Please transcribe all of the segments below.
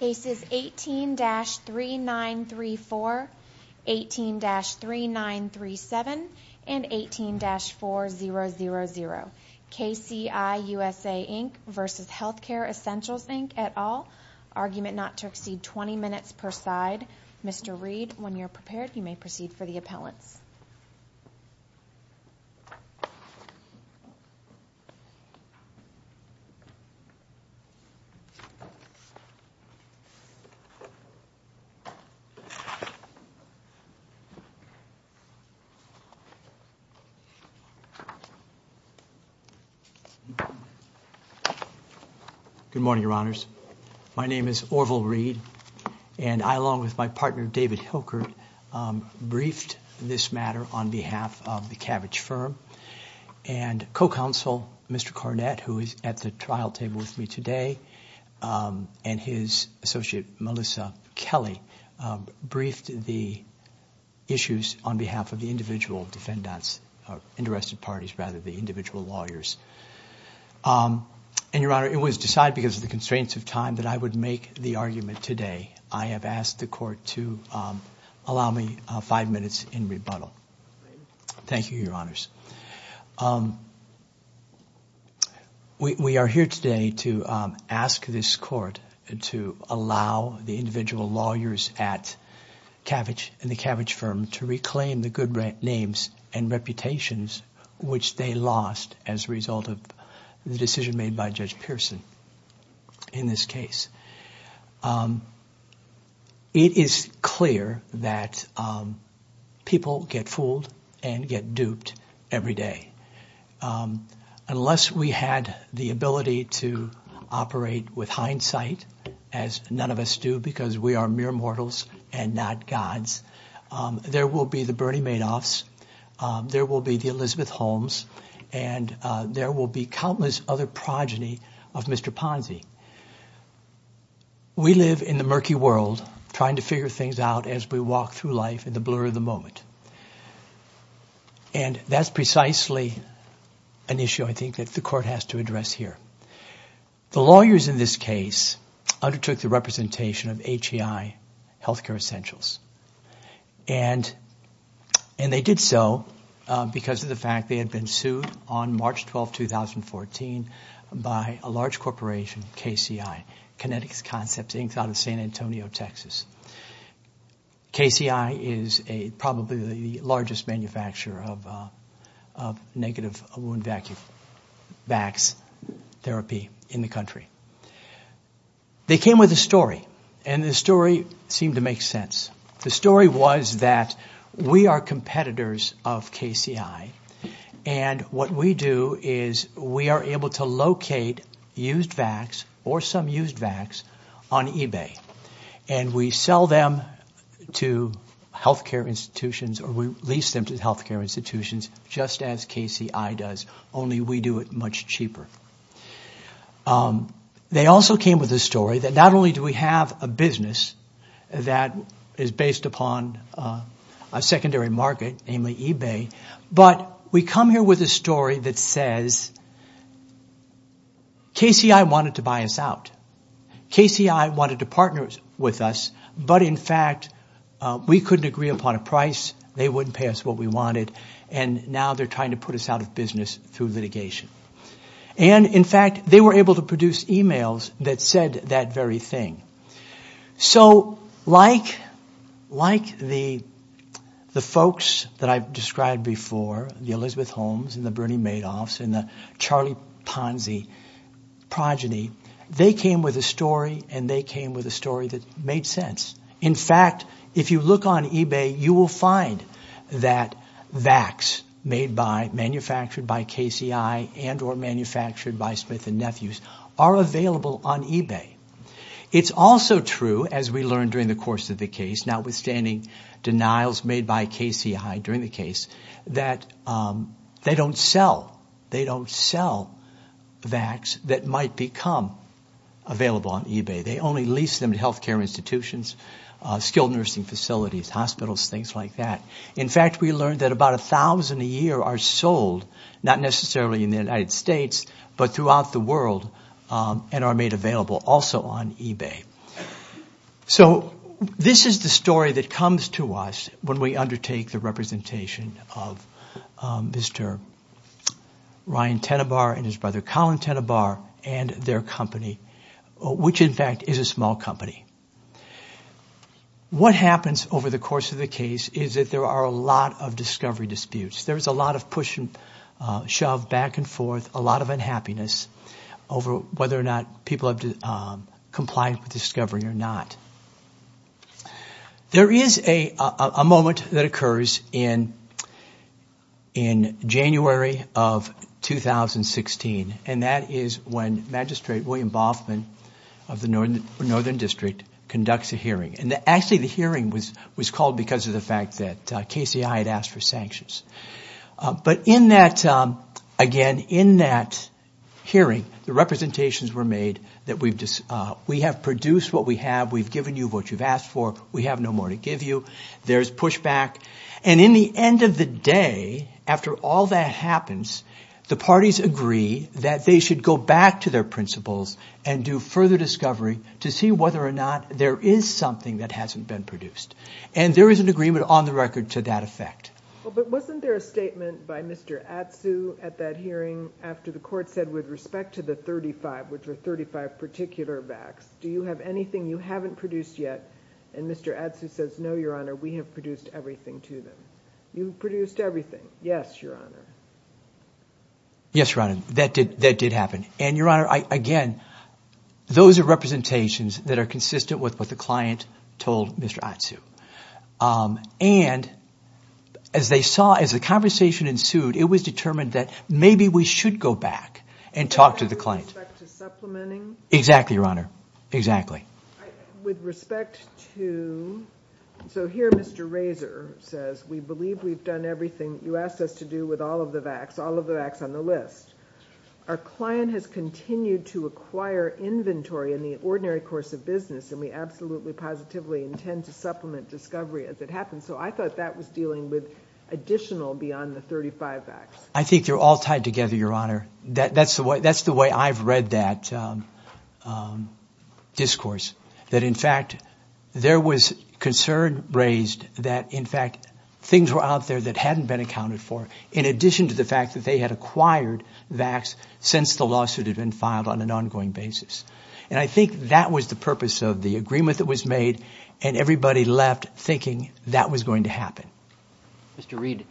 Cases 18-3934, 18-3937, and 18-4000. KCI USA Inc v. Healthcare Essentials Inc et al. Argument not to exceed 20 minutes per side. Mr. Reed, when you're prepared, you may proceed for the appellants. Good morning, Your Honors. My name is Orville Reed, and I, along with my partner, David Hilkert, briefed this matter on behalf of the Cabbage Firm. And co-counsel, Mr. Cornett, who is at the trial table with me today, and his associate, Melissa Kelly, briefed the issues on behalf of the individual defendants, or interested parties, rather, the individual lawyers. And, Your Honor, it was decided because of the constraints of time that I would make the argument today. I have asked the Court to allow me five minutes in rebuttal. Thank you, Your Honors. We are here today to ask this Court to allow the individual lawyers at Cabbage, in the Cabbage Firm, to reclaim the good names and reputations which they lost as a result of the decision made by Judge Pearson in this case. It is clear that people get fooled and get duped every day. Unless we had the ability to operate with hindsight, as none of us do because we are mere mortals and not gods, there will be the Bernie Madoffs, there will be the Elizabeth Holmes, and there will be countless other progeny of Mr. Ponzi. We live in the murky world, trying to figure things out as we walk through life in the blur of the moment. And that's precisely an issue, I think, that the Court has to address here. The lawyers in this case undertook the representation of HEI, healthcare essentials. And they did so because of the fact they had been sued on March 12, 2014, by a large corporation, KCI, Kinetics Concepts, Inc., out of San Antonio, Texas. KCI is probably the largest manufacturer of negative wound vac therapy in the country. They came with a story, and the story seemed to make sense. The story was that we are competitors of KCI, and what we do is we are able to locate used vacs or some used vacs on eBay. And we sell them to healthcare institutions or we lease them to healthcare institutions just as KCI does, only we do it much cheaper. They also came with a story that not only do we have a business that is based upon a secondary market, namely eBay, but we come here with a story that says KCI wanted to buy us out. KCI wanted to partner with us, but in fact we couldn't agree upon a price, they wouldn't pay us what we wanted, and now they're trying to put us out of business through litigation. And, in fact, they were able to produce emails that said that very thing. So, like the folks that I've described before, the Elizabeth Holmes and the Bernie Madoffs and the Charlie Ponzi progeny, they came with a story, and they came with a story that made sense. In fact, if you look on eBay, you will find that vacs made by, manufactured by KCI and or manufactured by Smith and Nephews are available on eBay. It's also true, as we learned during the course of the case, notwithstanding denials made by KCI during the case, that they don't sell, they don't sell vacs that might become available on eBay. They only lease them to healthcare institutions, skilled nursing facilities, hospitals, things like that. In fact, we learned that about 1,000 a year are sold, not necessarily in the United States, but throughout the world and are made available also on eBay. So, this is the story that comes to us when we undertake the representation of Mr. Ryan Tenenbaugh and his brother Colin Tenenbaugh and their company, which in fact is a small company. What happens over the course of the case is that there are a lot of discovery disputes. There's a lot of push and shove back and forth, a lot of unhappiness over whether or not people have complied with discovery or not. There is a moment that occurs in January of 2016, and that is when Magistrate William Hoffman of the Northern District conducts a hearing. Actually, the hearing was called because of the fact that KCI had asked for sanctions. But again, in that hearing, the representations were made that we have produced what we have, we've given you what you've asked for, we have no more to give you. There's pushback. And in the end of the day, after all that happens, the parties agree that they should go back to their principles and do further discovery to see whether or not there is something that hasn't been produced. And there is an agreement on the record to that effect. But wasn't there a statement by Mr. Atsu at that hearing after the court said with respect to the 35, which were 35 particular VACs, do you have anything you haven't produced yet? And Mr. Atsu says, no, Your Honor, we have produced everything to them. You've produced everything. Yes, Your Honor. Yes, Your Honor. That did happen. And Your Honor, again, those are representations that are consistent with what the client told Mr. Atsu. And as they saw, as the conversation ensued, it was determined that maybe we should go back and talk to the client. With respect to supplementing? Exactly, Your Honor. Exactly. With respect to, so here Mr. Razor says, we believe we've done everything you asked us to do with all of the VACs, all of the VACs on the list. Our client has continued to acquire inventory in the ordinary course of business and we absolutely positively intend to supplement discovery as it happens. So I thought that was dealing with additional beyond the 35 VACs. I think they're all tied together, Your Honor. That's the way I've read that discourse. That in fact there was concern raised that in fact things were out there that hadn't been accounted for in addition to the fact that they had acquired VACs since the lawsuit had been filed on an ongoing basis. And I think that was the purpose of the agreement that was made and everybody left thinking that was going to happen. Mr. Reed,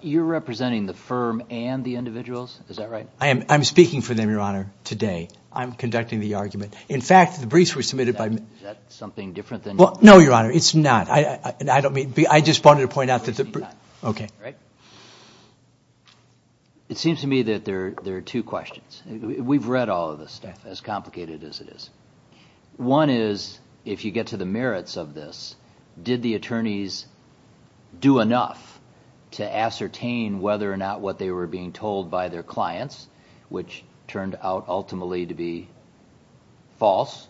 you're representing the firm and the individuals, is that right? I'm speaking for them, Your Honor, today. I'm conducting the argument. In fact, the briefs were submitted by... Is that something different than... No, Your Honor, it's not. I don't mean... I just wanted to point out that... Okay. It seems to me that there are two questions. We've read all of this stuff, as complicated as it is. One is, if you get to the merits of this, did the attorneys do enough to ascertain whether or not what they were being told by their clients, which turned out ultimately to be false,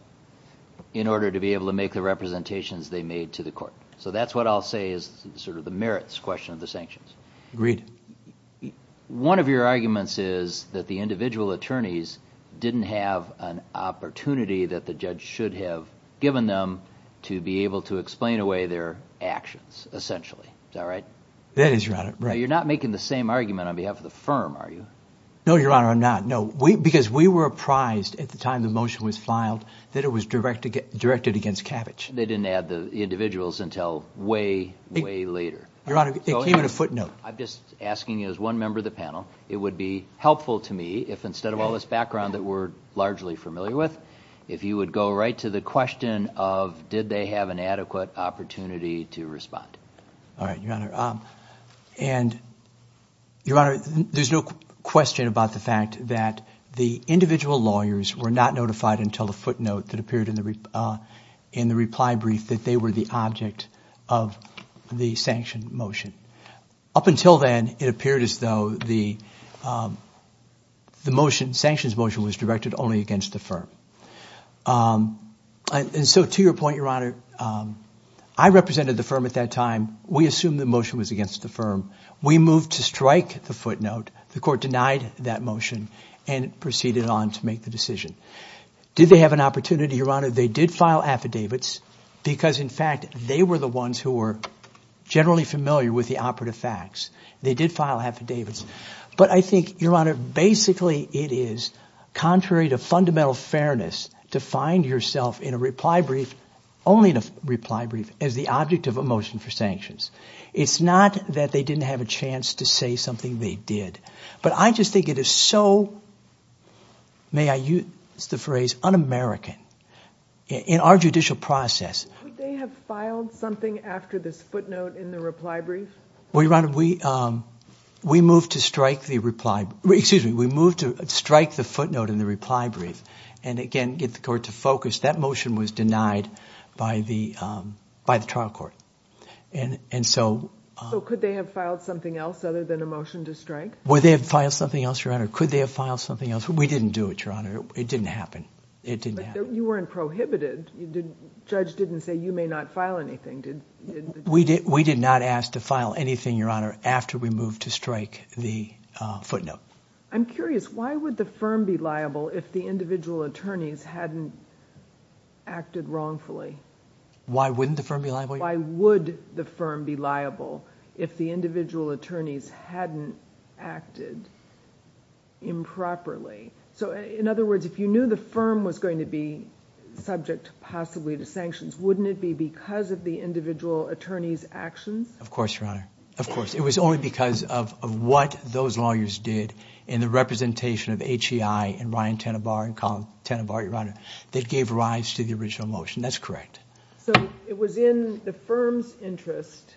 in order to be able to make the representations they made to the court? So that's what I'll say is sort of the merits question of the sanctions. Agreed. One of your arguments is that the individual attorneys didn't have an opportunity that the judge should have given them to be able to explain away their actions, essentially. Is that right? That is right. You're not making the same argument on behalf of the firm, are you? No, Your Honor, I'm not. No, because we were apprised at the time the motion was filed that it was directed against Kavich. They didn't add the individuals until way, way later. Your Honor, it came in a footnote. I'm just asking you, as one member of the panel, it would be helpful to me if instead of all this background that we're largely familiar with, if you would go right to the question of did they have an adequate opportunity to respond? All right, Your Honor. And, Your Honor, there's no question about the fact that the individual lawyers were not notified until the footnote that appeared in the reply brief that they were the object of the sanction motion. Up until then, it appeared as though the motion, sanctions motion, was directed only against the firm. And so to your point, Your Honor, I represented the firm at that time. We assumed the motion was against the firm. We moved to strike the footnote. The court denied that motion and proceeded on to make the decision. Did they have an opportunity, Your Honor? They did file affidavits because, in fact, they were the ones who were generally familiar with the operative facts. They did file affidavits. But I think, Your Honor, basically it is contrary to fundamental fairness to find yourself in a reply brief, only in a reply brief, as the object of a motion for sanctions. It's not that they didn't have a chance to say something. They did. But I just think it is so, may I use the phrase, un-American in our judicial process. Would they have filed something after this footnote in the reply brief? Well, Your Honor, we moved to strike the reply, excuse me, we moved to strike the footnote in the reply brief. And again, get the court to focus, that motion was denied by the trial court. And so... So could they have filed something else other than a motion to strike? Would they have filed something else, Your Honor? Could they have filed something else? We didn't do it, Your Honor. It didn't happen. It didn't happen. But you weren't prohibited. The judge didn't say you may not file anything. We did not ask to file anything, Your Honor, after we moved to strike the footnote. I'm curious, why would the firm be liable if the individual attorneys hadn't acted wrongfully? Why wouldn't the firm be liable? Why would the firm be liable if the individual attorneys hadn't acted improperly? So in other words, if you knew the firm was going to be subject possibly to sanctions, wouldn't it be because of the individual attorney's actions? Of course, Your Honor. Of course. It was only because of what those lawyers did in the representation of HEI and Ryan Tenenbaum and Colin Tenenbaum, Your Honor, that gave rise to the original motion. That's correct. So it was in the firm's interest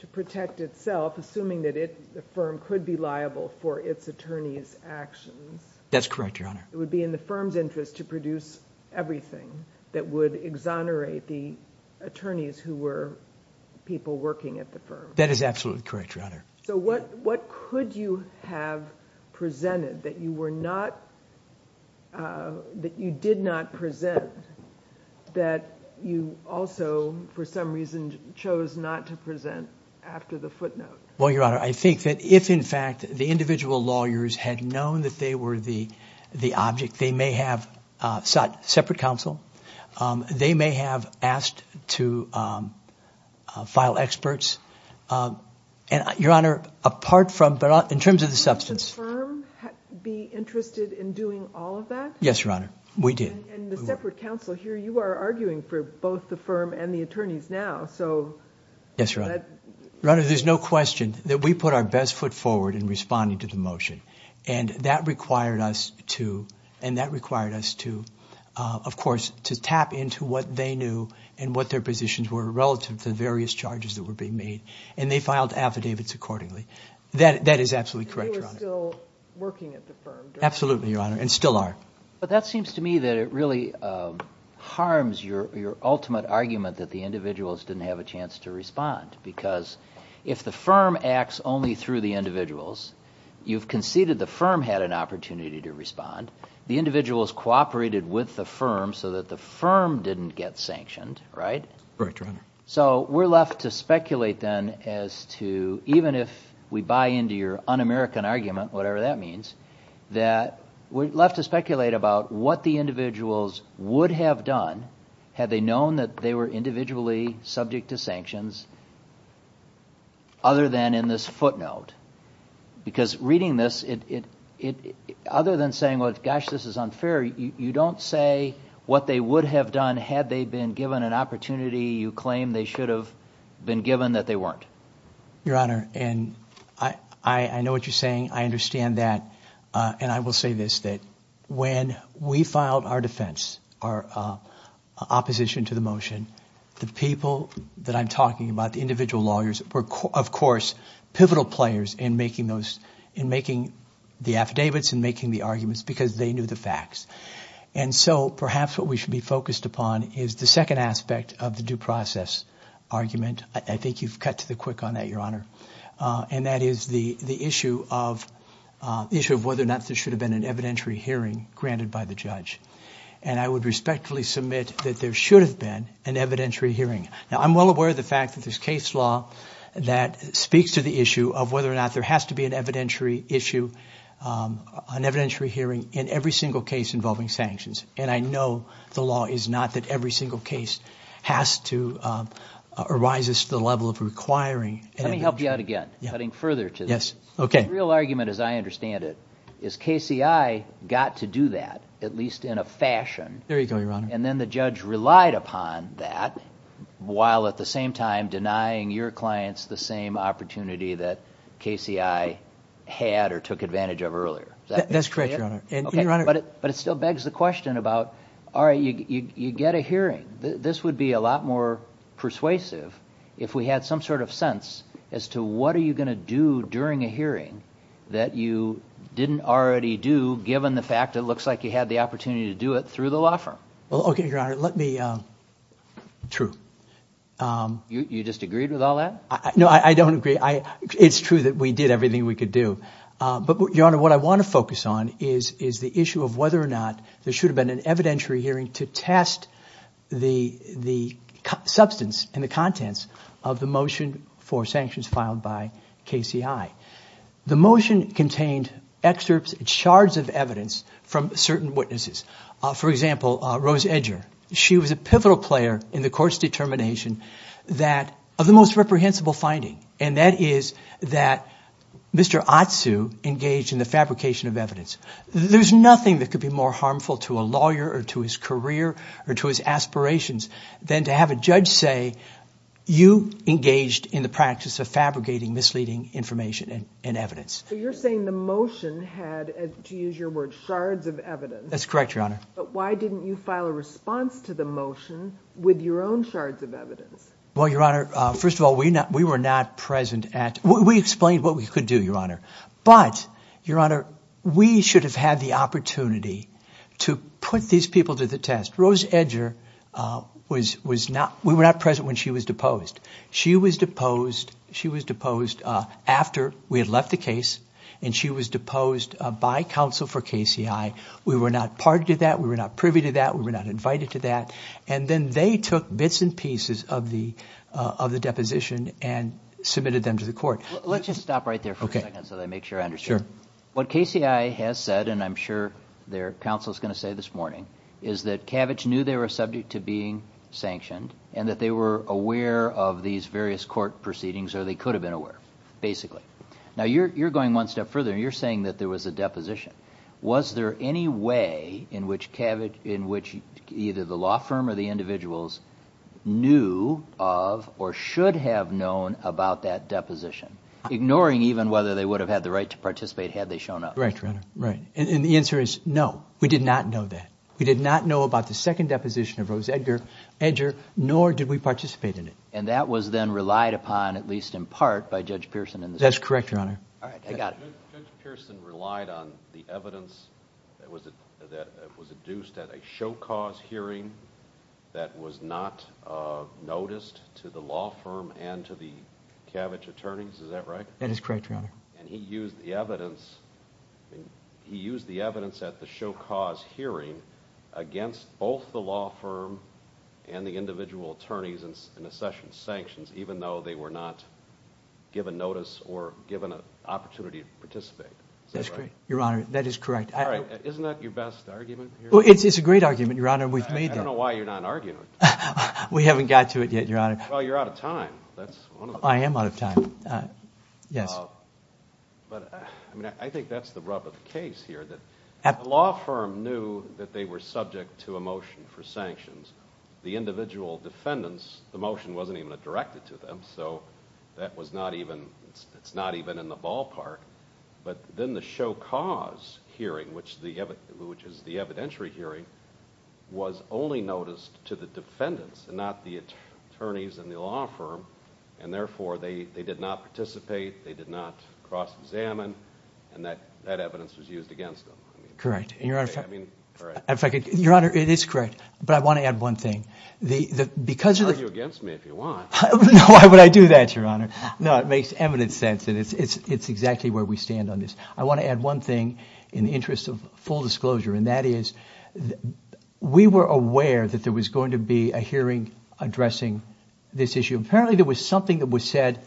to protect itself, assuming that the firm could be liable for its attorney's actions. That's correct, Your Honor. It would be in the firm's interest to produce everything that would exonerate the attorneys who were people working at the firm. That is absolutely correct, Your Honor. So what could you have presented that you did not present that you also, for some reason, chose not to present after the footnote? Well, Your Honor, I think that if, in fact, the individual lawyers had known that they were the object, they may have sought separate counsel. They may have asked to file experts. And, Your Honor, apart from – in terms of the substance – Would the firm be interested in doing all of that? Yes, Your Honor. We did. And the separate counsel here, you are arguing for both the firm and the attorneys now, so – Yes, Your Honor. Your Honor, there's no question that we put our best foot forward in responding to the motion. And that required us to – and that required us to, of course, to tap into what they knew and what their positions were relative to the various charges that were being made. And they filed affidavits accordingly. That is absolutely correct, Your Honor. And they were still working at the firm during that time? Absolutely, Your Honor. And still are. But that seems to me that it really harms your ultimate argument that the individuals didn't have a chance to respond. Because if the firm acts only through the individuals, you've conceded the firm had an opportunity to respond, the individuals cooperated with the firm so that the firm didn't get sanctioned, right? Correct, Your Honor. So we're left to speculate then as to – even if we buy into your un-American argument, whatever that means – that we're left to speculate about what the individuals would have done had they known that they were individually subject to sanctions other than in this footnote. Because reading this, other than saying, well, gosh, this is unfair, you don't say what they would have done had they been given an opportunity. You claim they should have been given that they weren't. I understand that. And I will say this, that when we filed our defense, our opposition to the motion, the people that I'm talking about, the individual lawyers, were, of course, pivotal players in making those – in making the affidavits and making the arguments because they knew the facts. And so perhaps what we should be focused upon is the second aspect of the due process argument. I think you've cut to the quick on that, Your Honor. And that is the issue of whether or not there should have been an evidentiary hearing granted by the judge. And I would respectfully submit that there should have been an evidentiary hearing. Now, I'm well aware of the fact that there's case law that speaks to the issue of whether or not there has to be an evidentiary issue, an evidentiary hearing in every single case involving sanctions. And I know the law is not that every single case has to – arises to the level of requiring an evidentiary hearing. Let me help you out again, cutting further to this. The real argument, as I understand it, is KCI got to do that, at least in a fashion. There you go, Your Honor. And then the judge relied upon that while at the same time denying your clients the same opportunity that KCI had or took advantage of earlier. That's correct, Your Honor. But it still begs the question about, all right, you get a hearing. This would be a lot more persuasive if we had some sort of sense as to what are you going to do during a hearing that you didn't already do, given the fact it looks like you had the opportunity to do it through the law firm. Well, okay, Your Honor. Let me – true. You just agreed with all that? No, I don't agree. It's true that we did everything we could do. But, Your Honor, what I want to focus on is the issue of whether or not there should have been an evidentiary hearing to test the substance and the contents of the motion for sanctions filed by KCI. The motion contained excerpts and shards of evidence from certain witnesses. For example, Rose Edger. She was a pivotal player in the court's determination that – of the most reprehensible finding, and that is that Mr. Atsu engaged in the fabrication of evidence. There's nothing that could be more harmful to a lawyer or to his career or to his aspirations than to have a judge say you engaged in the practice of fabricating misleading information and evidence. So you're saying the motion had, to use your word, shards of evidence. That's correct, Your Honor. But why didn't you file a response to the motion with your own shards of evidence? Well, Your Honor, first of all, we were not present at – we explained what we could do, Your Honor. But, Your Honor, we should have had the opportunity to put these people to the test. Rose Edger was not – we were not present when she was deposed. She was deposed after we had left the case, and she was deposed by counsel for KCI. We were not part of that. We were not privy to that. We were not invited to that. And then they took bits and pieces of the deposition and submitted them to the court. Let's just stop right there for a second so that I make sure I understand. Sure. What KCI has said, and I'm sure their counsel is going to say this morning, is that Kavich knew they were subject to being sanctioned and that they were aware of these various court proceedings, or they could have been aware, basically. Now, you're going one step further. You're saying that there was a deposition. Was there any way in which either the law firm or the individuals knew of or should have known about that deposition, ignoring even whether they would have had the right to participate had they shown up? Correct, Your Honor. Right. And the answer is no, we did not know that. We did not know about the second deposition of Rose Edger, nor did we participate in it. And that was then relied upon, at least in part, by Judge Pearson. That's correct, Your Honor. All right. I got it. Judge Pearson relied on the evidence that was induced at a show-cause hearing that was not noticed to the law firm and to the Kavich attorneys. Is that right? That is correct, Your Honor. And he used the evidence at the show-cause hearing against both the law firm and the individual attorneys in the session sanctions, even though they were not given notice or given an opportunity to participate. Is that right? That's correct, Your Honor. That is correct. All right. Isn't that your best argument here? It's a great argument, Your Honor. We've made that. I don't know why you're not arguing it. We haven't got to it yet, Your Honor. Well, you're out of time. That's one of the things. I am out of time. Yes. But I think that's the rub of the case here, that the law firm knew that they were subject to a motion for sanctions. The individual defendants, the motion wasn't even directed to them, so it's not even in the ballpark. But then the show-cause hearing, which is the evidentiary hearing, was only noticed to the defendants and not the attorneys in the law firm, and therefore they did not participate, they did not cross-examine, and that evidence was used against them. Correct. In fact, Your Honor, it is correct, but I want to add one thing. You can argue against me if you want. No, why would I do that, Your Honor? No, it makes eminent sense, and it's exactly where we stand on this. I want to add one thing in the interest of full disclosure, and that is we were aware that there was going to be a hearing addressing this issue. Apparently there was something that was said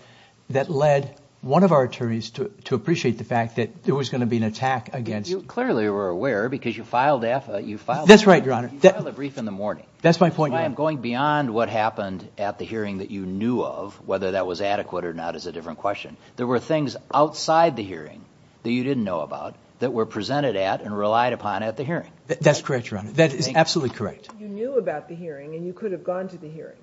that led one of our attorneys to appreciate the fact that there was going to be an attack against. You clearly were aware because you filed a briefcase. That's right, Your Honor. You filed a brief in the morning. That's my point, Your Honor. I am going beyond what happened at the hearing that you knew of, whether that was adequate or not is a different question. There were things outside the hearing that you didn't know about that were presented at and relied upon at the hearing. That's correct, Your Honor. That is absolutely correct. You knew about the hearing, and you could have gone to the hearing.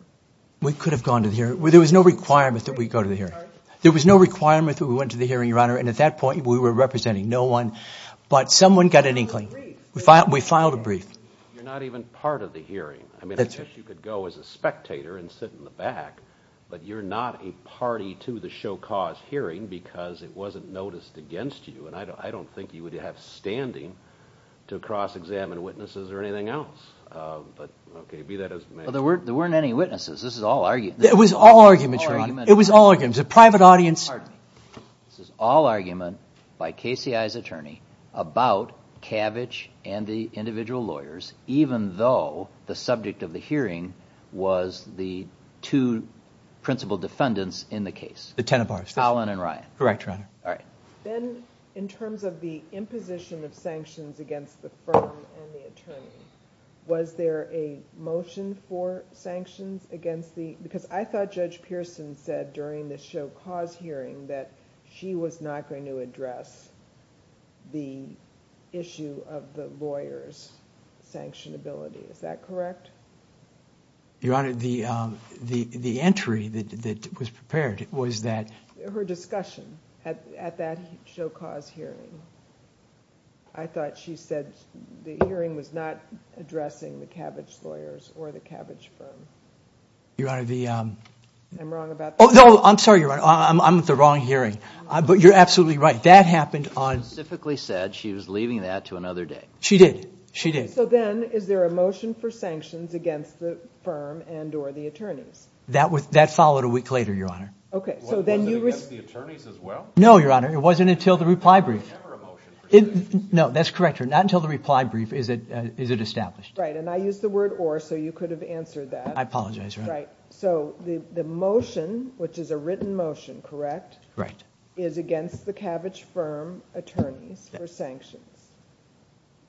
We could have gone to the hearing. There was no requirement that we go to the hearing. There was no requirement that we went to the hearing, Your Honor, and at that point we were representing no one, but someone got an inkling. We filed a brief. You're not even part of the hearing. I mean, I guess you could go as a spectator and sit in the back, but you're not a party to the show-cause hearing because it wasn't noticed against you, and I don't think you would have standing to cross-examine witnesses or anything else. But, okay, be that as it may. Well, there weren't any witnesses. This is all argument. It was all argument, Your Honor. It was all argument. It was a private audience. Pardon me. This is all argument by KCI's attorney about Kavich and the individual lawyers, even though the subject of the hearing was the two principal defendants in the case. The ten of hearts. Colin and Ryan. Correct, Your Honor. All right. Ben, in terms of the imposition of sanctions against the firm and the attorney, was there a motion for sanctions against the – that she was not going to address the issue of the lawyers' sanctionability? Is that correct? Your Honor, the entry that was prepared was that... Her discussion at that show-cause hearing. I thought she said the hearing was not addressing the Kavich lawyers or the Kavich firm. Your Honor, the... I'm wrong about that. No, I'm sorry, Your Honor. I'm at the wrong hearing. But you're absolutely right. That happened on... She specifically said she was leaving that to another day. She did. She did. So then is there a motion for sanctions against the firm and or the attorneys? That followed a week later, Your Honor. Okay. So then you... Wasn't it against the attorneys as well? No, Your Honor. It wasn't until the reply brief. There was never a motion for sanctions. No, that's correct, Your Honor. Not until the reply brief is it established. Right, and I used the word or so you could have answered that. I apologize, Your Honor. Right. So the motion, which is a written motion, correct... Correct.... is against the Kavich firm attorneys for sanctions. Yes.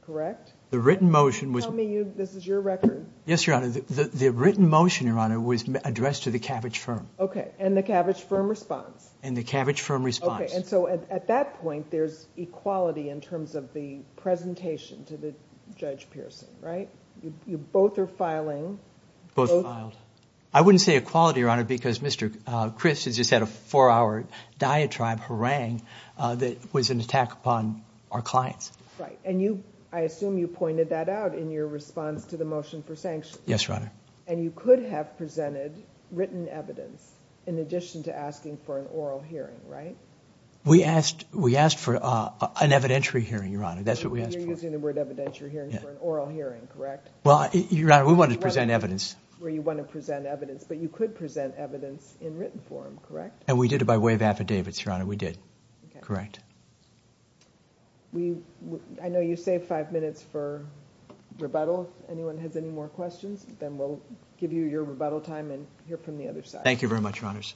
Correct? The written motion was... Tell me you... this is your record. Yes, Your Honor. The written motion, Your Honor, was addressed to the Kavich firm. Okay, and the Kavich firm responds. And the Kavich firm responds. Okay, and so at that point, there's equality in terms of the presentation to the Judge Pearson, right? You both are filing... I wouldn't say equality, Your Honor, because Mr. Chris has just had a four-hour diatribe harangue that was an attack upon our clients. Right, and you... I assume you pointed that out in your response to the motion for sanctions. Yes, Your Honor. And you could have presented written evidence in addition to asking for an oral hearing, right? We asked for an evidentiary hearing, Your Honor. That's what we asked for. You're using the word evidentiary hearing for an oral hearing, correct? Well, Your Honor, we wanted to present evidence. You wanted to present evidence, but you could present evidence in written form, correct? And we did it by way of affidavits, Your Honor. We did. Okay. Correct. We... I know you saved five minutes for rebuttal. If anyone has any more questions, then we'll give you your rebuttal time and hear from the other side. Thank you very much, Your Honors.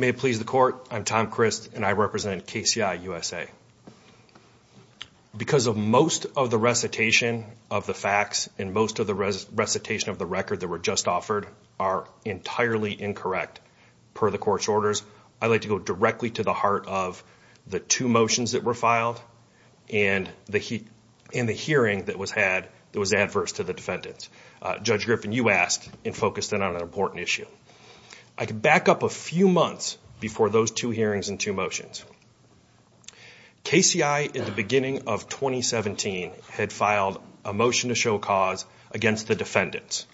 May it please the Court. I'm Tom Crist, and I represent KCI USA. Because of most of the recitation of the facts and most of the recitation of the record that were just offered are entirely incorrect per the Court's orders, I'd like to go directly to the heart of the two motions that were filed and the heat... and the hearing that was had that was adverse to the defendants. Judge Griffin, you asked and focused in on an important issue. I can back up a few months before those two hearings and two motions. KCI, in the beginning of 2017, had filed a motion to show cause against the defendants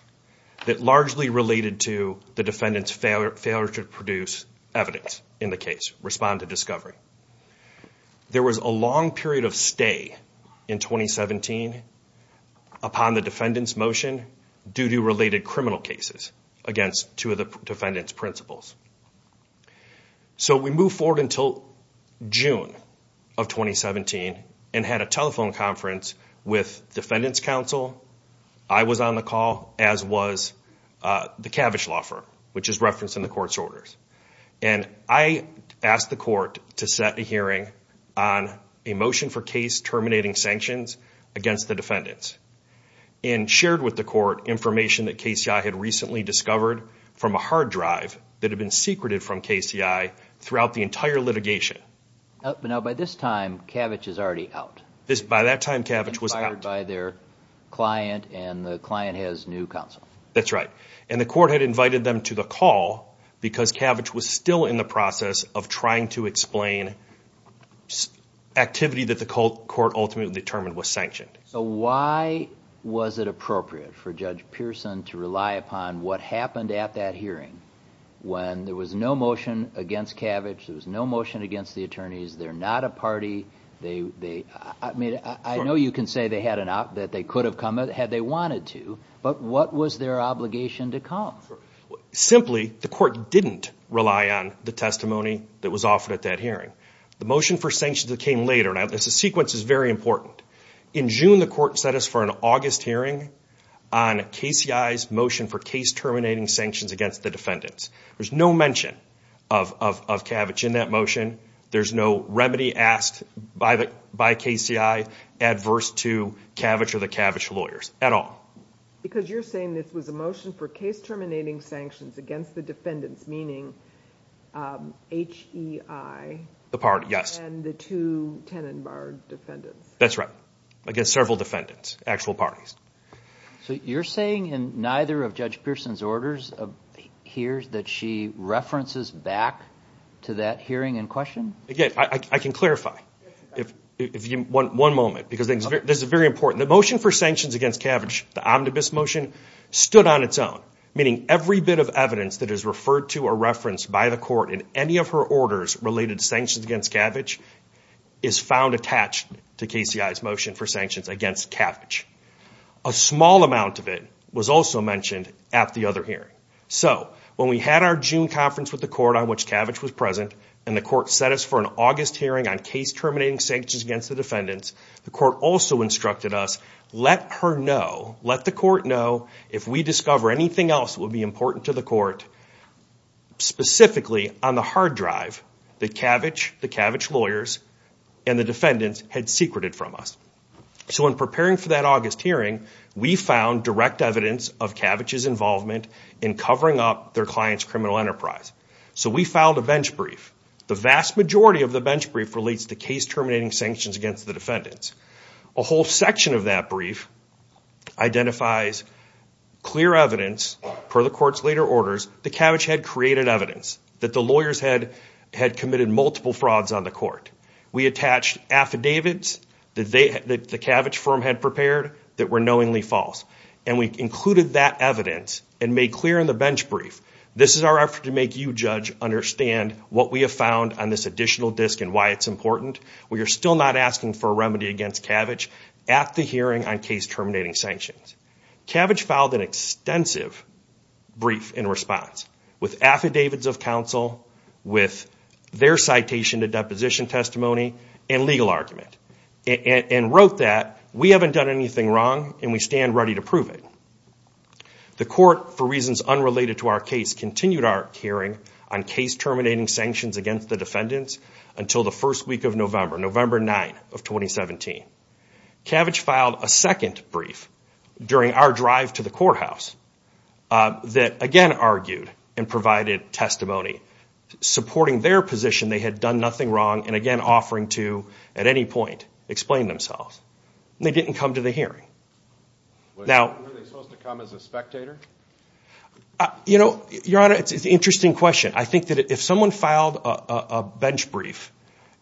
that largely related to the defendants' failure to produce evidence in the case, respond to discovery. There was a long period of stay in 2017, upon the defendants' motion, due to related criminal cases against two of the defendants' principals. So, we moved forward until June of 2017 and had a telephone conference with defendants' counsel. I was on the call, as was the Cavish Law Firm, which is referenced in the Court's orders. And, I asked the Court to set a hearing on a motion for case terminating sanctions against the defendants and shared with the Court information that KCI had recently discovered from a hard drive that had been secreted from KCI throughout the entire litigation. Now, by this time, Cavish is already out. By that time, Cavish was out. Inspired by their client and the client has new counsel. That's right. And, the Court had invited them to the call because Cavish was still in the process of trying to explain activity that the Court ultimately determined was sanctioned. So, why was it appropriate for Judge Pearson to rely upon what happened at that hearing when there was no motion against Cavish, there was no motion against the attorneys, they're not a party, I mean, I know you can say they could have come had they wanted to, but what was their obligation to come? Simply, the Court didn't rely on the testimony that was offered at that hearing. The motion for sanctions came later. Now, this sequence is very important. In June, the Court set us for an August hearing on KCI's motion for case terminating sanctions against the defendants. There's no mention of Cavish in that motion. There's no remedy asked by KCI adverse to Cavish or the Cavish lawyers at all. Because you're saying this was a motion for case terminating sanctions against the defendants, meaning HEI. The party, yes. And the two Tenenbaum defendants. That's right. Against several defendants, actual parties. So you're saying in neither of Judge Pearson's orders here that she references back to that hearing in question? Again, I can clarify. One moment, because this is very important. The motion for sanctions against Cavish, the omnibus motion, stood on its own, meaning every bit of evidence that is referred to or referenced by the Court in any of her orders related to sanctions against Cavish is found attached to KCI's motion for sanctions against Cavish. A small amount of it was also mentioned at the other hearing. So when we had our June conference with the Court on which Cavish was present and the Court set us for an August hearing on case terminating sanctions against the defendants, the Court also instructed us, let her know, let the Court know, if we discover anything else that would be important to the Court, specifically on the hard drive that Cavish, the Cavish lawyers, and the defendants had secreted from us. So in preparing for that August hearing, we found direct evidence of Cavish's involvement in covering up their client's criminal enterprise. So we filed a bench brief. The vast majority of the bench brief relates to case terminating sanctions against the defendants. A whole section of that brief identifies clear evidence, per the Court's later orders, that Cavish had created evidence that the lawyers had committed multiple frauds on the Court. We attached affidavits that the Cavish firm had prepared that were knowingly false. And we included that evidence and made clear in the bench brief, this is our effort to make you, Judge, understand what we have found on this additional disk and why it's important. We are still not asking for a remedy against Cavish at the hearing on case terminating sanctions. Cavish filed an extensive brief in response with affidavits of counsel, with their citation to deposition testimony, and legal argument, and wrote that we haven't done anything wrong and we stand ready to prove it. The Court, for reasons unrelated to our case, continued our hearing on case terminating sanctions against the defendants until the first week of November, November 9 of 2017. Cavish filed a second brief during our drive to the courthouse that, again, argued and provided testimony, supporting their position they had done nothing wrong and, again, offering to, at any point, explain themselves. They didn't come to the hearing. Were they supposed to come as a spectator? You know, Your Honor, it's an interesting question. I think that if someone filed a bench brief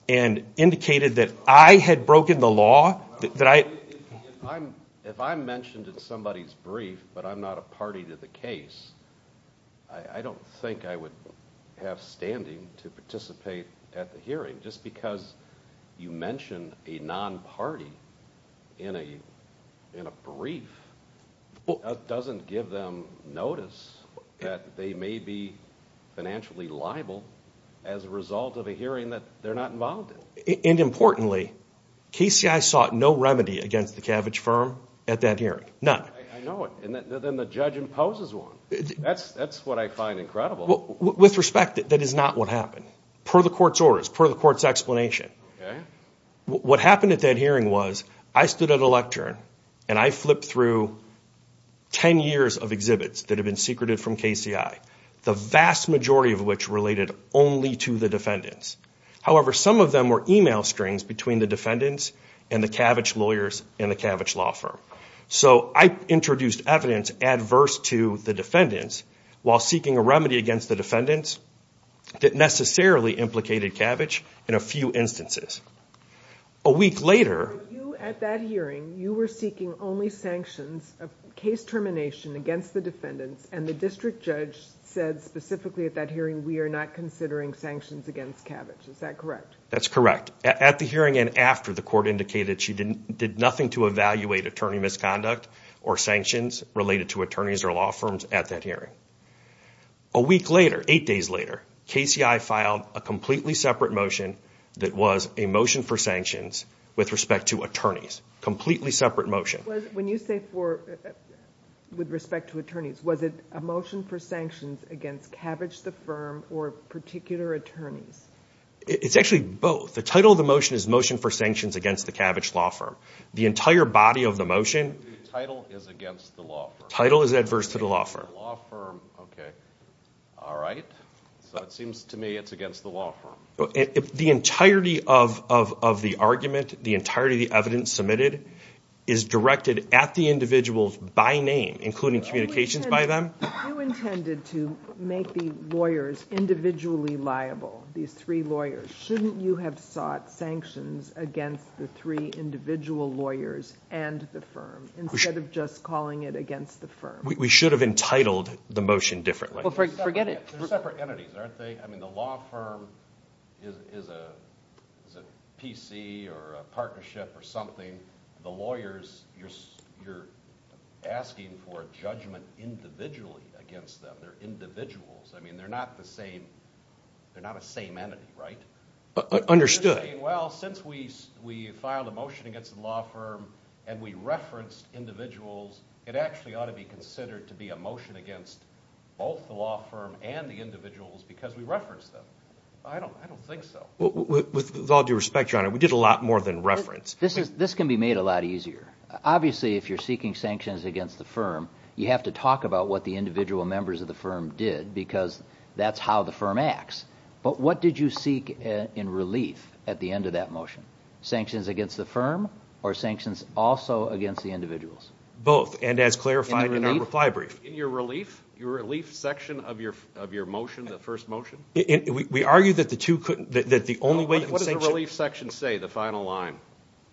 and indicated that I had broken the law, that I... If I'm mentioned in somebody's brief but I'm not a party to the case, I don't think I would have standing to participate at the hearing. Just because you mention a non-party in a brief doesn't give them notice that they may be financially liable as a result of a hearing that they're not involved in. And, importantly, KCI sought no remedy against the Cavish firm at that hearing, none. I know it. Then the judge imposes one. That's what I find incredible. With respect, that is not what happened. Per the court's orders, per the court's explanation. What happened at that hearing was I stood at a lectern and I flipped through 10 years of exhibits that had been secreted from KCI, the vast majority of which related only to the defendants. However, some of them were email strings between the defendants and the Cavish lawyers and the Cavish law firm. So I introduced evidence adverse to the defendants while seeking a remedy against the defendants that necessarily implicated Cavish in a few instances. A week later... At that hearing, you were seeking only sanctions of case termination against the defendants, and the district judge said specifically at that hearing, we are not considering sanctions against Cavish. Is that correct? That's correct. At the hearing and after, the court indicated she did nothing to evaluate attorney misconduct or sanctions related to attorneys or law firms at that hearing. A week later, eight days later, KCI filed a completely separate motion that was a motion for sanctions with respect to attorneys. Completely separate motion. When you say with respect to attorneys, was it a motion for sanctions against Cavish the firm or particular attorneys? It's actually both. The title of the motion is motion for sanctions against the Cavish law firm. The entire body of the motion... The title is against the law firm. Title is adverse to the law firm. Okay. All right. So it seems to me it's against the law firm. The entirety of the argument, the entirety of the evidence submitted, is directed at the individuals by name, including communications by them. You intended to make the lawyers individually liable, these three lawyers. Shouldn't you have sought sanctions against the three individual lawyers and the firm instead of just calling it against the firm? We should have entitled the motion differently. Well, forget it. They're separate entities, aren't they? I mean, the law firm is a PC or a partnership or something. The lawyers, you're asking for judgment individually against them. They're individuals. I mean, they're not the same entity, right? Understood. Well, since we filed a motion against the law firm and we referenced individuals, it actually ought to be considered to be a motion against both the law firm and the individuals because we referenced them. I don't think so. With all due respect, Your Honor, we did a lot more than reference. This can be made a lot easier. Obviously, if you're seeking sanctions against the firm, you have to talk about what the individual members of the firm did because that's how the firm acts. But what did you seek in relief at the end of that motion? Sanctions against the firm or sanctions also against the individuals? Both, and as clarified in our reply brief. In your relief? Your relief section of your motion, the first motion? We argue that the only way you can sanction. What does the relief section say, the final line?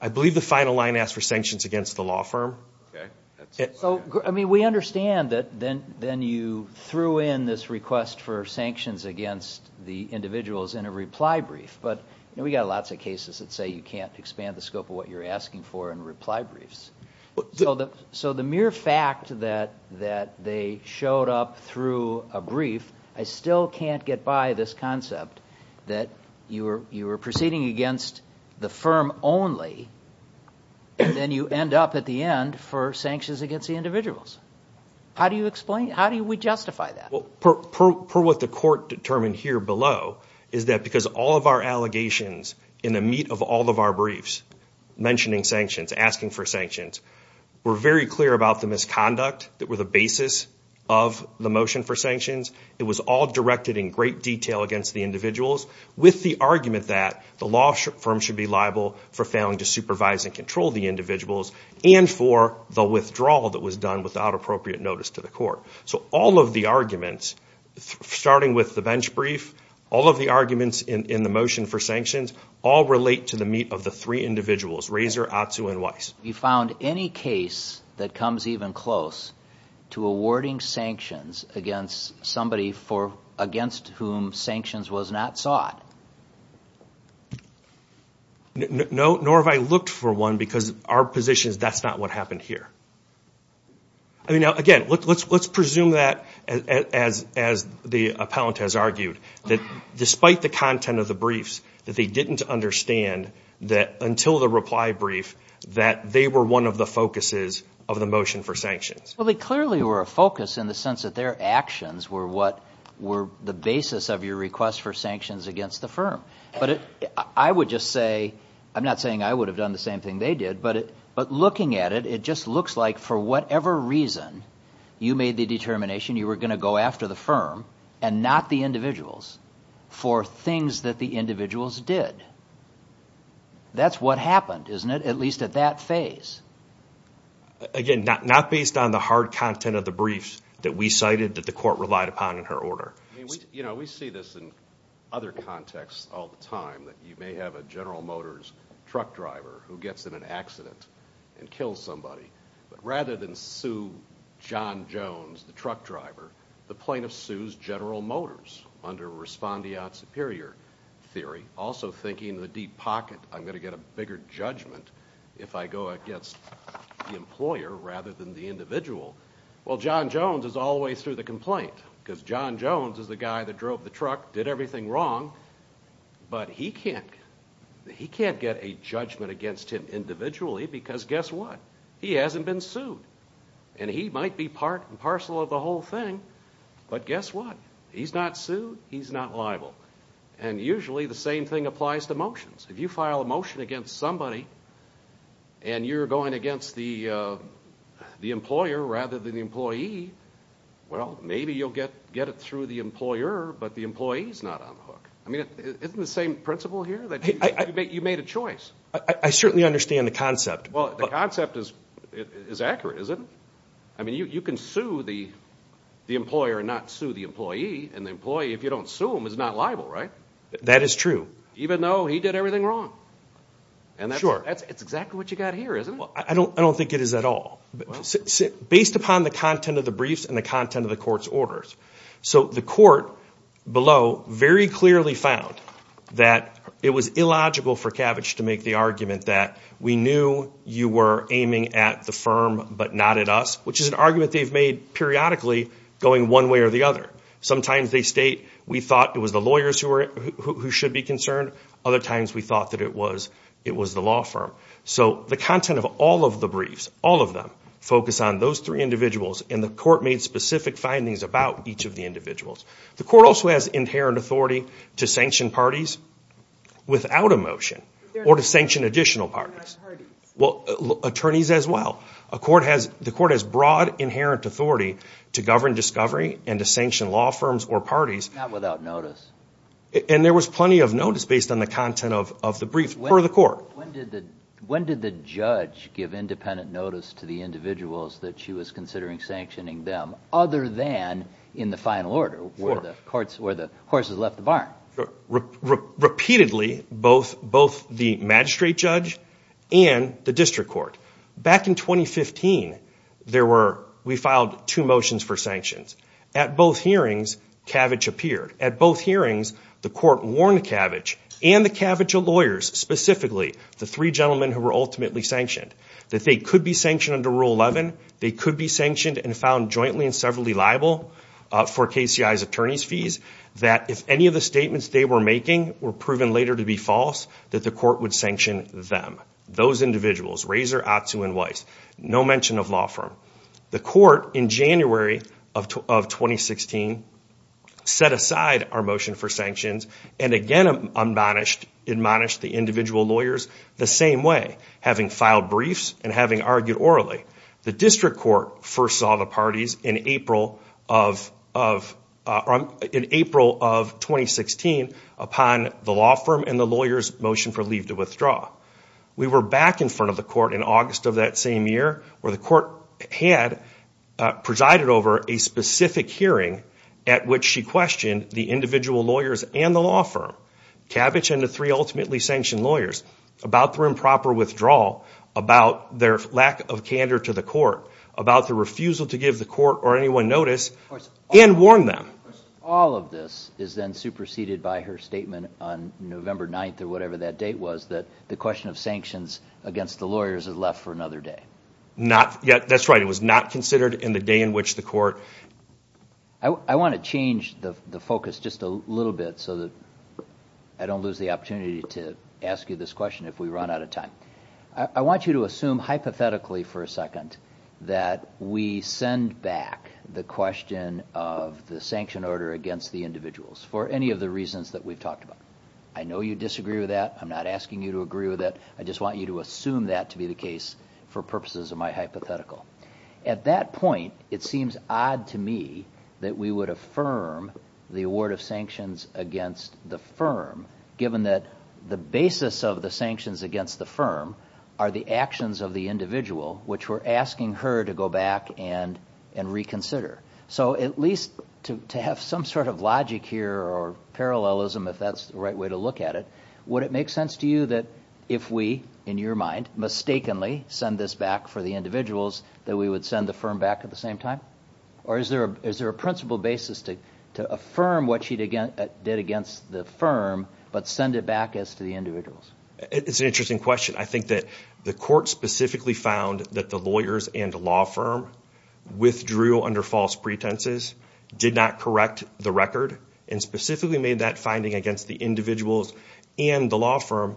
I believe the final line asks for sanctions against the law firm. Okay. So, I mean, we understand that then you threw in this request for sanctions against the individuals in a reply brief. But, you know, we've got lots of cases that say you can't expand the scope of what you're asking for in reply briefs. So the mere fact that they showed up through a brief, I still can't get by this concept that you were proceeding against the firm only and then you end up at the end for sanctions against the individuals. How do you explain? How do we justify that? Per what the court determined here below is that because all of our allegations in the meat of all of our briefs mentioning sanctions, asking for sanctions, were very clear about the misconduct that were the basis of the motion for sanctions. It was all directed in great detail against the individuals with the argument that the law firm should be liable for failing to supervise and control the individuals and for the withdrawal that was done without appropriate notice to the court. So all of the arguments, starting with the bench brief, all of the arguments in the motion for sanctions, all relate to the meat of the three individuals, Razor, Atzu, and Weiss. Have you found any case that comes even close to awarding sanctions against somebody against whom sanctions was not sought? No, nor have I looked for one because our position is that's not what happened here. I mean, again, let's presume that, as the appellant has argued, that despite the content of the briefs that they didn't understand that until the reply brief that they were one of the focuses of the motion for sanctions. Well, they clearly were a focus in the sense that their actions were what were the basis of your request for sanctions against the firm. But I would just say, I'm not saying I would have done the same thing they did, but looking at it, it just looks like for whatever reason you made the determination you were going to go after the firm and not the individuals for things that the individuals did. That's what happened, isn't it, at least at that phase? Again, not based on the hard content of the briefs that we cited that the court relied upon in her order. You know, we see this in other contexts all the time, that you may have a General Motors truck driver who gets in an accident and kills somebody. But rather than sue John Jones, the truck driver, the plaintiff sues General Motors under respondeat superior theory, also thinking in the deep pocket, I'm going to get a bigger judgment if I go against the employer rather than the individual. Well, John Jones is all the way through the complaint because John Jones is the guy that drove the truck, did everything wrong, but he can't get a judgment against him individually because guess what? He hasn't been sued. And he might be part and parcel of the whole thing, but guess what? He's not sued, he's not liable. And usually the same thing applies to motions. If you file a motion against somebody and you're going against the employer rather than the employee, well, maybe you'll get it through the employer, but the employee is not on the hook. I mean, isn't the same principle here? You made a choice. I certainly understand the concept. Well, the concept is accurate, isn't it? I mean, you can sue the employer and not sue the employee, and the employee, if you don't sue him, is not liable, right? That is true. Even though he did everything wrong. Sure. And that's exactly what you've got here, isn't it? I don't think it is at all. Based upon the content of the briefs and the content of the court's orders. So the court below very clearly found that it was illogical for Cabbage to make the argument that we knew you were aiming at the firm but not at us, which is an argument they've made periodically going one way or the other. Sometimes they state we thought it was the lawyers who should be concerned. Other times we thought that it was the law firm. So the content of all of the briefs, all of them, focus on those three individuals, and the court made specific findings about each of the individuals. The court also has inherent authority to sanction parties without a motion or to sanction additional parties. Well, attorneys as well. The court has broad inherent authority to govern discovery and to sanction law firms or parties. Not without notice. And there was plenty of notice based on the content of the brief for the court. When did the judge give independent notice to the individuals that she was considering sanctioning them, other than in the final order where the horses left the barn? Repeatedly, both the magistrate judge and the district court. Back in 2015, we filed two motions for sanctions. At both hearings, Cabbage appeared. At both hearings, the court warned Cabbage and the Cabbage of lawyers, specifically the three gentlemen who were ultimately sanctioned, that they could be sanctioned under Rule 11, they could be sanctioned and found jointly and severally liable for KCI's attorney's fees, that if any of the statements they were making were proven later to be false, that the court would sanction them, those individuals, Razor, Otso, and Weiss. No mention of law firm. The court in January of 2016 set aside our motion for sanctions and again admonished the individual lawyers the same way, having filed briefs and having argued orally. The district court first saw the parties in April of 2016 upon the law firm and the lawyer's motion for leave to withdraw. We were back in front of the court in August of that same year where the court had presided over a specific hearing at which she questioned the individual lawyers and the law firm, Cabbage and the three ultimately sanctioned lawyers, about their improper withdrawal, about their lack of candor to the court, about their refusal to give the court or anyone notice, and warned them. All of this is then superseded by her statement on November 9th or whatever that date was that the question of sanctions against the lawyers is left for another day. That's right. It was not considered in the day in which the court... I want to change the focus just a little bit so that I don't lose the opportunity to ask you this question if we run out of time. I want you to assume hypothetically for a second that we send back the question of the sanction order against the individuals for any of the reasons that we've talked about. I know you disagree with that. I'm not asking you to agree with it. I just want you to assume that to be the case for purposes of my hypothetical. At that point, it seems odd to me that we would affirm the award of sanctions against the firm given that the basis of the sanctions against the firm are the actions of the individual, which we're asking her to go back and reconsider. So at least to have some sort of logic here or parallelism, if that's the right way to look at it, would it make sense to you that if we, in your mind, mistakenly send this back for the individuals that we would send the firm back at the same time? Or is there a principle basis to affirm what she did against the firm but send it back as to the individuals? It's an interesting question. I think that the court specifically found that the lawyers and law firm withdrew under false pretenses, did not correct the record, and specifically made that finding against the individuals and the law firm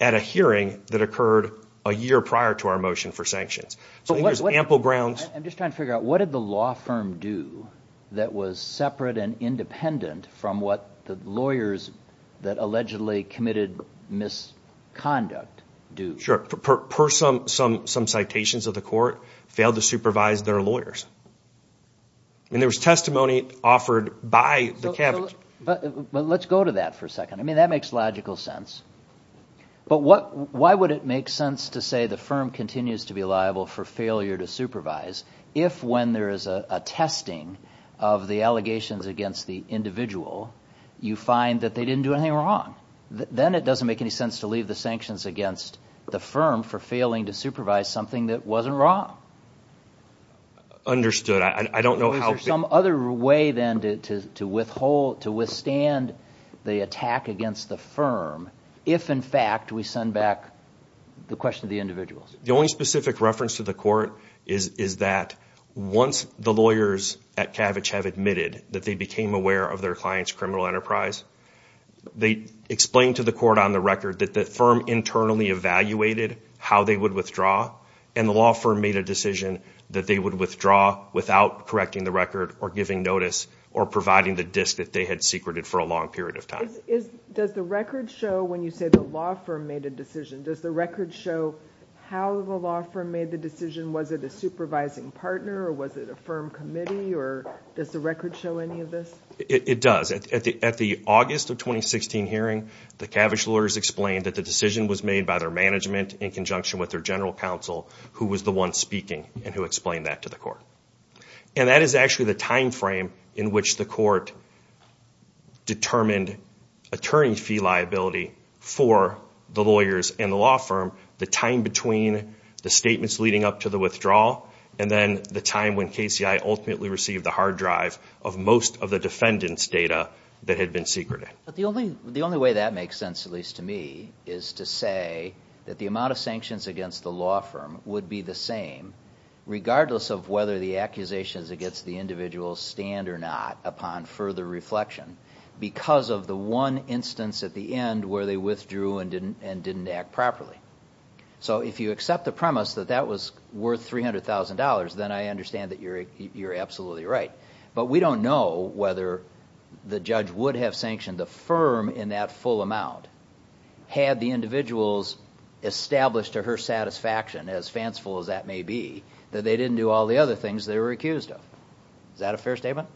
at a hearing that occurred a year prior to our motion for sanctions. So I think there's ample grounds. I'm just trying to figure out what did the law firm do that was separate and independent from what the lawyers that allegedly committed misconduct do? Sure. Per some citations of the court, failed to supervise their lawyers. And there was testimony offered by the cabbage. But let's go to that for a second. I mean, that makes logical sense. But why would it make sense to say the firm continues to be liable for failure to supervise if when there is a testing of the allegations against the individual, you find that they didn't do anything wrong? Then it doesn't make any sense to leave the sanctions against the firm for failing to supervise something that wasn't wrong. Understood. Is there some other way then to withstand the attack against the firm if, in fact, we send back the question to the individuals? The only specific reference to the court is that once the lawyers at Kavich have admitted that they became aware of their client's criminal enterprise, they explain to the court on the record that the firm internally evaluated how they would withdraw, and the law firm made a decision that they would withdraw without correcting the record or giving notice or providing the disk that they had secreted for a long period of time. Does the record show when you say the law firm made a decision, does the record show how the law firm made the decision? Was it a supervising partner or was it a firm committee? Does the record show any of this? It does. At the August of 2016 hearing, the Kavich lawyers explained that the decision was made by their management in conjunction with their general counsel who was the one speaking and who explained that to the court. That is actually the time frame in which the court determined attorney fee liability for the lawyers and the law firm, the time between the statements leading up to the withdrawal and then the time when KCI ultimately received the hard drive of most of the defendant's data that had been secreted. The only way that makes sense, at least to me, is to say that the amount of sanctions against the law firm would be the same regardless of whether the accusations against the individual stand or not upon further reflection because of the one instance at the end where they withdrew and didn't act properly. So if you accept the premise that that was worth $300,000, then I understand that you're absolutely right. But we don't know whether the judge would have sanctioned the firm in that full amount had the individuals established to her satisfaction, as fanciful as that may be, that they didn't do all the other things they were accused of. Is that a fair statement?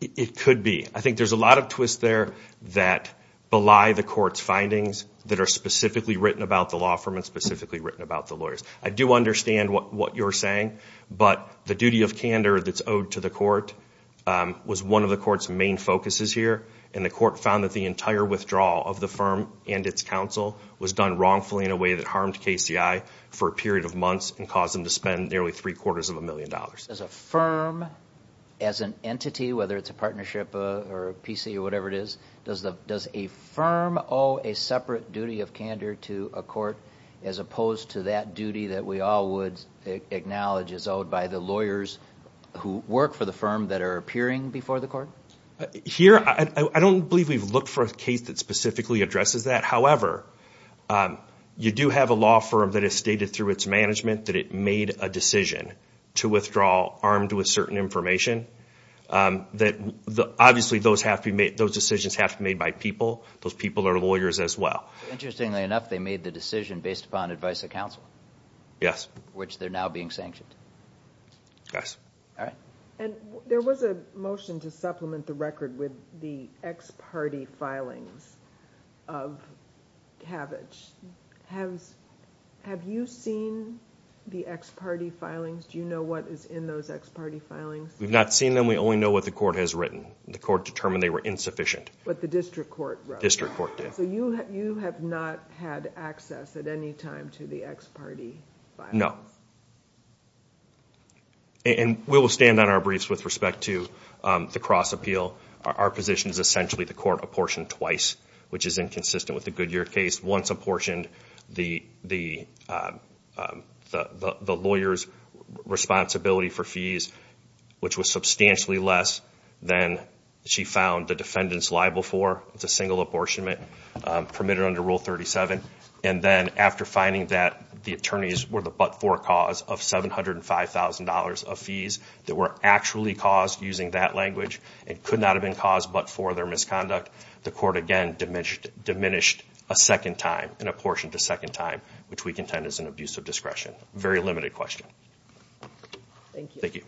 It could be. I think there's a lot of twists there that belie the court's findings that are specifically written about the law firm and specifically written about the lawyers. I do understand what you're saying, but the duty of candor that's owed to the court was one of the court's main focuses here, and the court found that the entire withdrawal of the firm and its counsel was done wrongfully in a way that harmed KCI for a period of months and caused them to spend nearly three-quarters of a million dollars. As a firm, as an entity, whether it's a partnership or a PC or whatever it is, does a firm owe a separate duty of candor to a court as opposed to that duty that we all would acknowledge is owed by the lawyers who work for the firm that are appearing before the court? Here, I don't believe we've looked for a case that specifically addresses that. However, you do have a law firm that has stated through its management that it made a decision to withdraw armed with certain information. Obviously, those decisions have to be made by people. Those people are lawyers as well. Interestingly enough, they made the decision based upon advice of counsel. Yes. Which they're now being sanctioned. Yes. All right. There was a motion to supplement the record with the ex-party filings of Kavich. Have you seen the ex-party filings? Do you know what is in those ex-party filings? We've not seen them. We only know what the court has written. The court determined they were insufficient. What the district court wrote. District court did. You have not had access at any time to the ex-party filings? No. We will stand on our briefs with respect to the cross-appeal. Our position is essentially the court apportioned twice, which is inconsistent with the Goodyear case. Once apportioned, the lawyer's responsibility for fees, which was substantially less than she found the defendants liable for, it's a single apportionment permitted under Rule 37. And then after finding that the attorneys were the but-for cause of $705,000 of fees that were actually caused using that language and could not have been caused but for their misconduct, the court again diminished a second time, an apportioned a second time, which we contend is an abuse of discretion. Very limited question. Thank you. Thank you.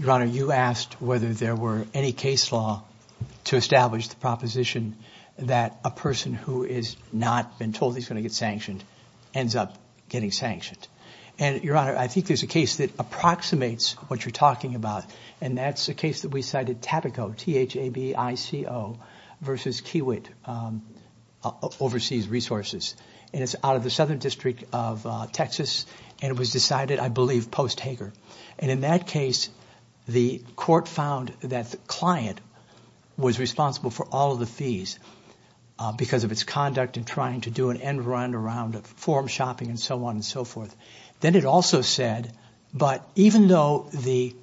Your Honor, you asked whether there were any case law to establish the proposition that a person who has not been told he's going to get sanctioned ends up getting sanctioned. And, Your Honor, I think there's a case that approximates what you're talking about, and that's the case that we cited, TAPICO, T-H-A-B-I-C-O, versus Kiewit Overseas Resources. And it's out of the Southern District of Texas, and it was decided, I believe, post Hager. And in that case, the court found that the client was responsible for all of the fees because of its conduct in trying to do an end run around form shopping and so on and so forth. Then it also said, but even though the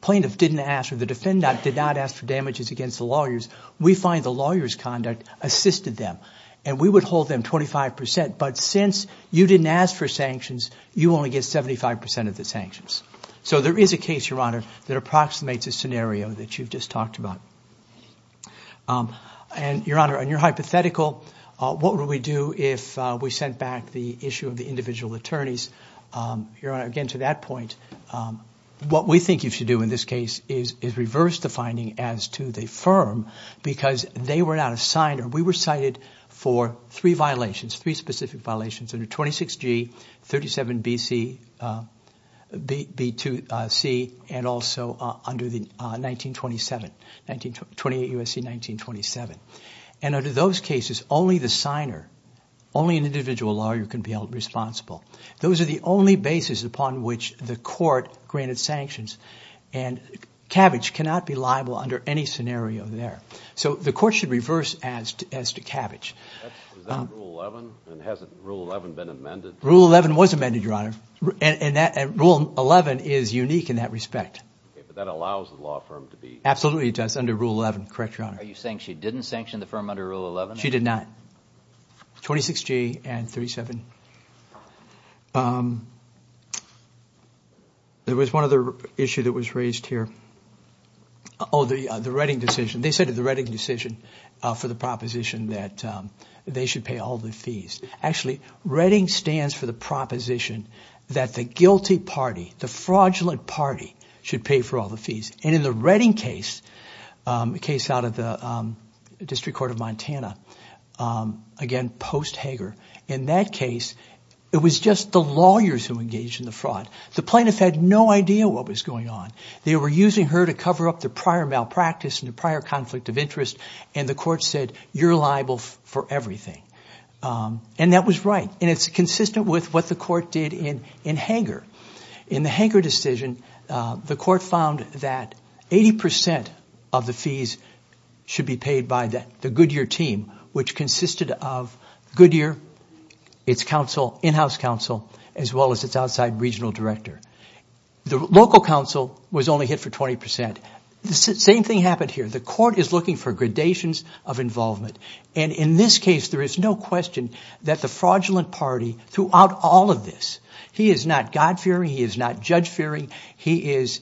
plaintiff didn't ask or the defendant did not ask for damages against the lawyers, we find the lawyers' conduct assisted them. And we would hold them 25%, but since you didn't ask for sanctions, you only get 75% of the sanctions. So there is a case, Your Honor, that approximates a scenario that you've just talked about. And, Your Honor, on your hypothetical, what would we do if we sent back the issue of the individual attorneys? Your Honor, again, to that point, what we think you should do in this case is reverse the finding as to the firm because they were not assigned or we were cited for three violations, three specific violations, under 26G, 37B2C, and also under the 1928 U.S.C. 1927. And under those cases, only the signer, only an individual lawyer can be held responsible. Those are the only bases upon which the court granted sanctions, and Cabbage cannot be liable under any scenario there. So the court should reverse as to Cabbage. Is that Rule 11, and hasn't Rule 11 been amended? Rule 11 was amended, Your Honor, and Rule 11 is unique in that respect. Okay, but that allows the law firm to be? Absolutely, it does, under Rule 11. Correct, Your Honor. Are you saying she didn't sanction the firm under Rule 11? She did not. 26G and 37. There was one other issue that was raised here. Oh, the Redding decision. They said that the Redding decision for the proposition that they should pay all the fees. Actually, Redding stands for the proposition that the guilty party, the fraudulent party, should pay for all the fees. And in the Redding case, a case out of the District Court of Montana, again, post-Hager, in that case, it was just the lawyers who engaged in the fraud. The plaintiff had no idea what was going on. They were using her to cover up the prior malpractice and the prior conflict of interest, and the court said, you're liable for everything. And that was right, and it's consistent with what the court did in Hager. In the Hager decision, the court found that 80% of the fees should be paid by the Goodyear team, which consisted of Goodyear, its in-house counsel, as well as its outside regional director. The local counsel was only hit for 20%. The same thing happened here. The court is looking for gradations of involvement, and in this case, there is no question that the fraudulent party threw out all of this. He is not God-fearing. He is not judge-fearing. He is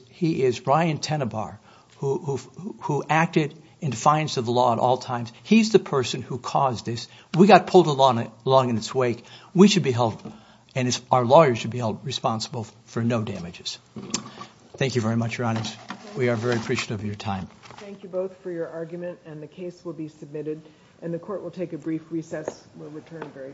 Ryan Tenenbaum, who acted in defiance of the law at all times. He's the person who caused this. We got pulled along in its wake. We should be held, and our lawyers should be held responsible for no damages. Thank you very much, Your Honors. We are very appreciative of your time. Thank you both for your argument, and the case will be submitted, and the court will take a brief recess. We'll return very shortly.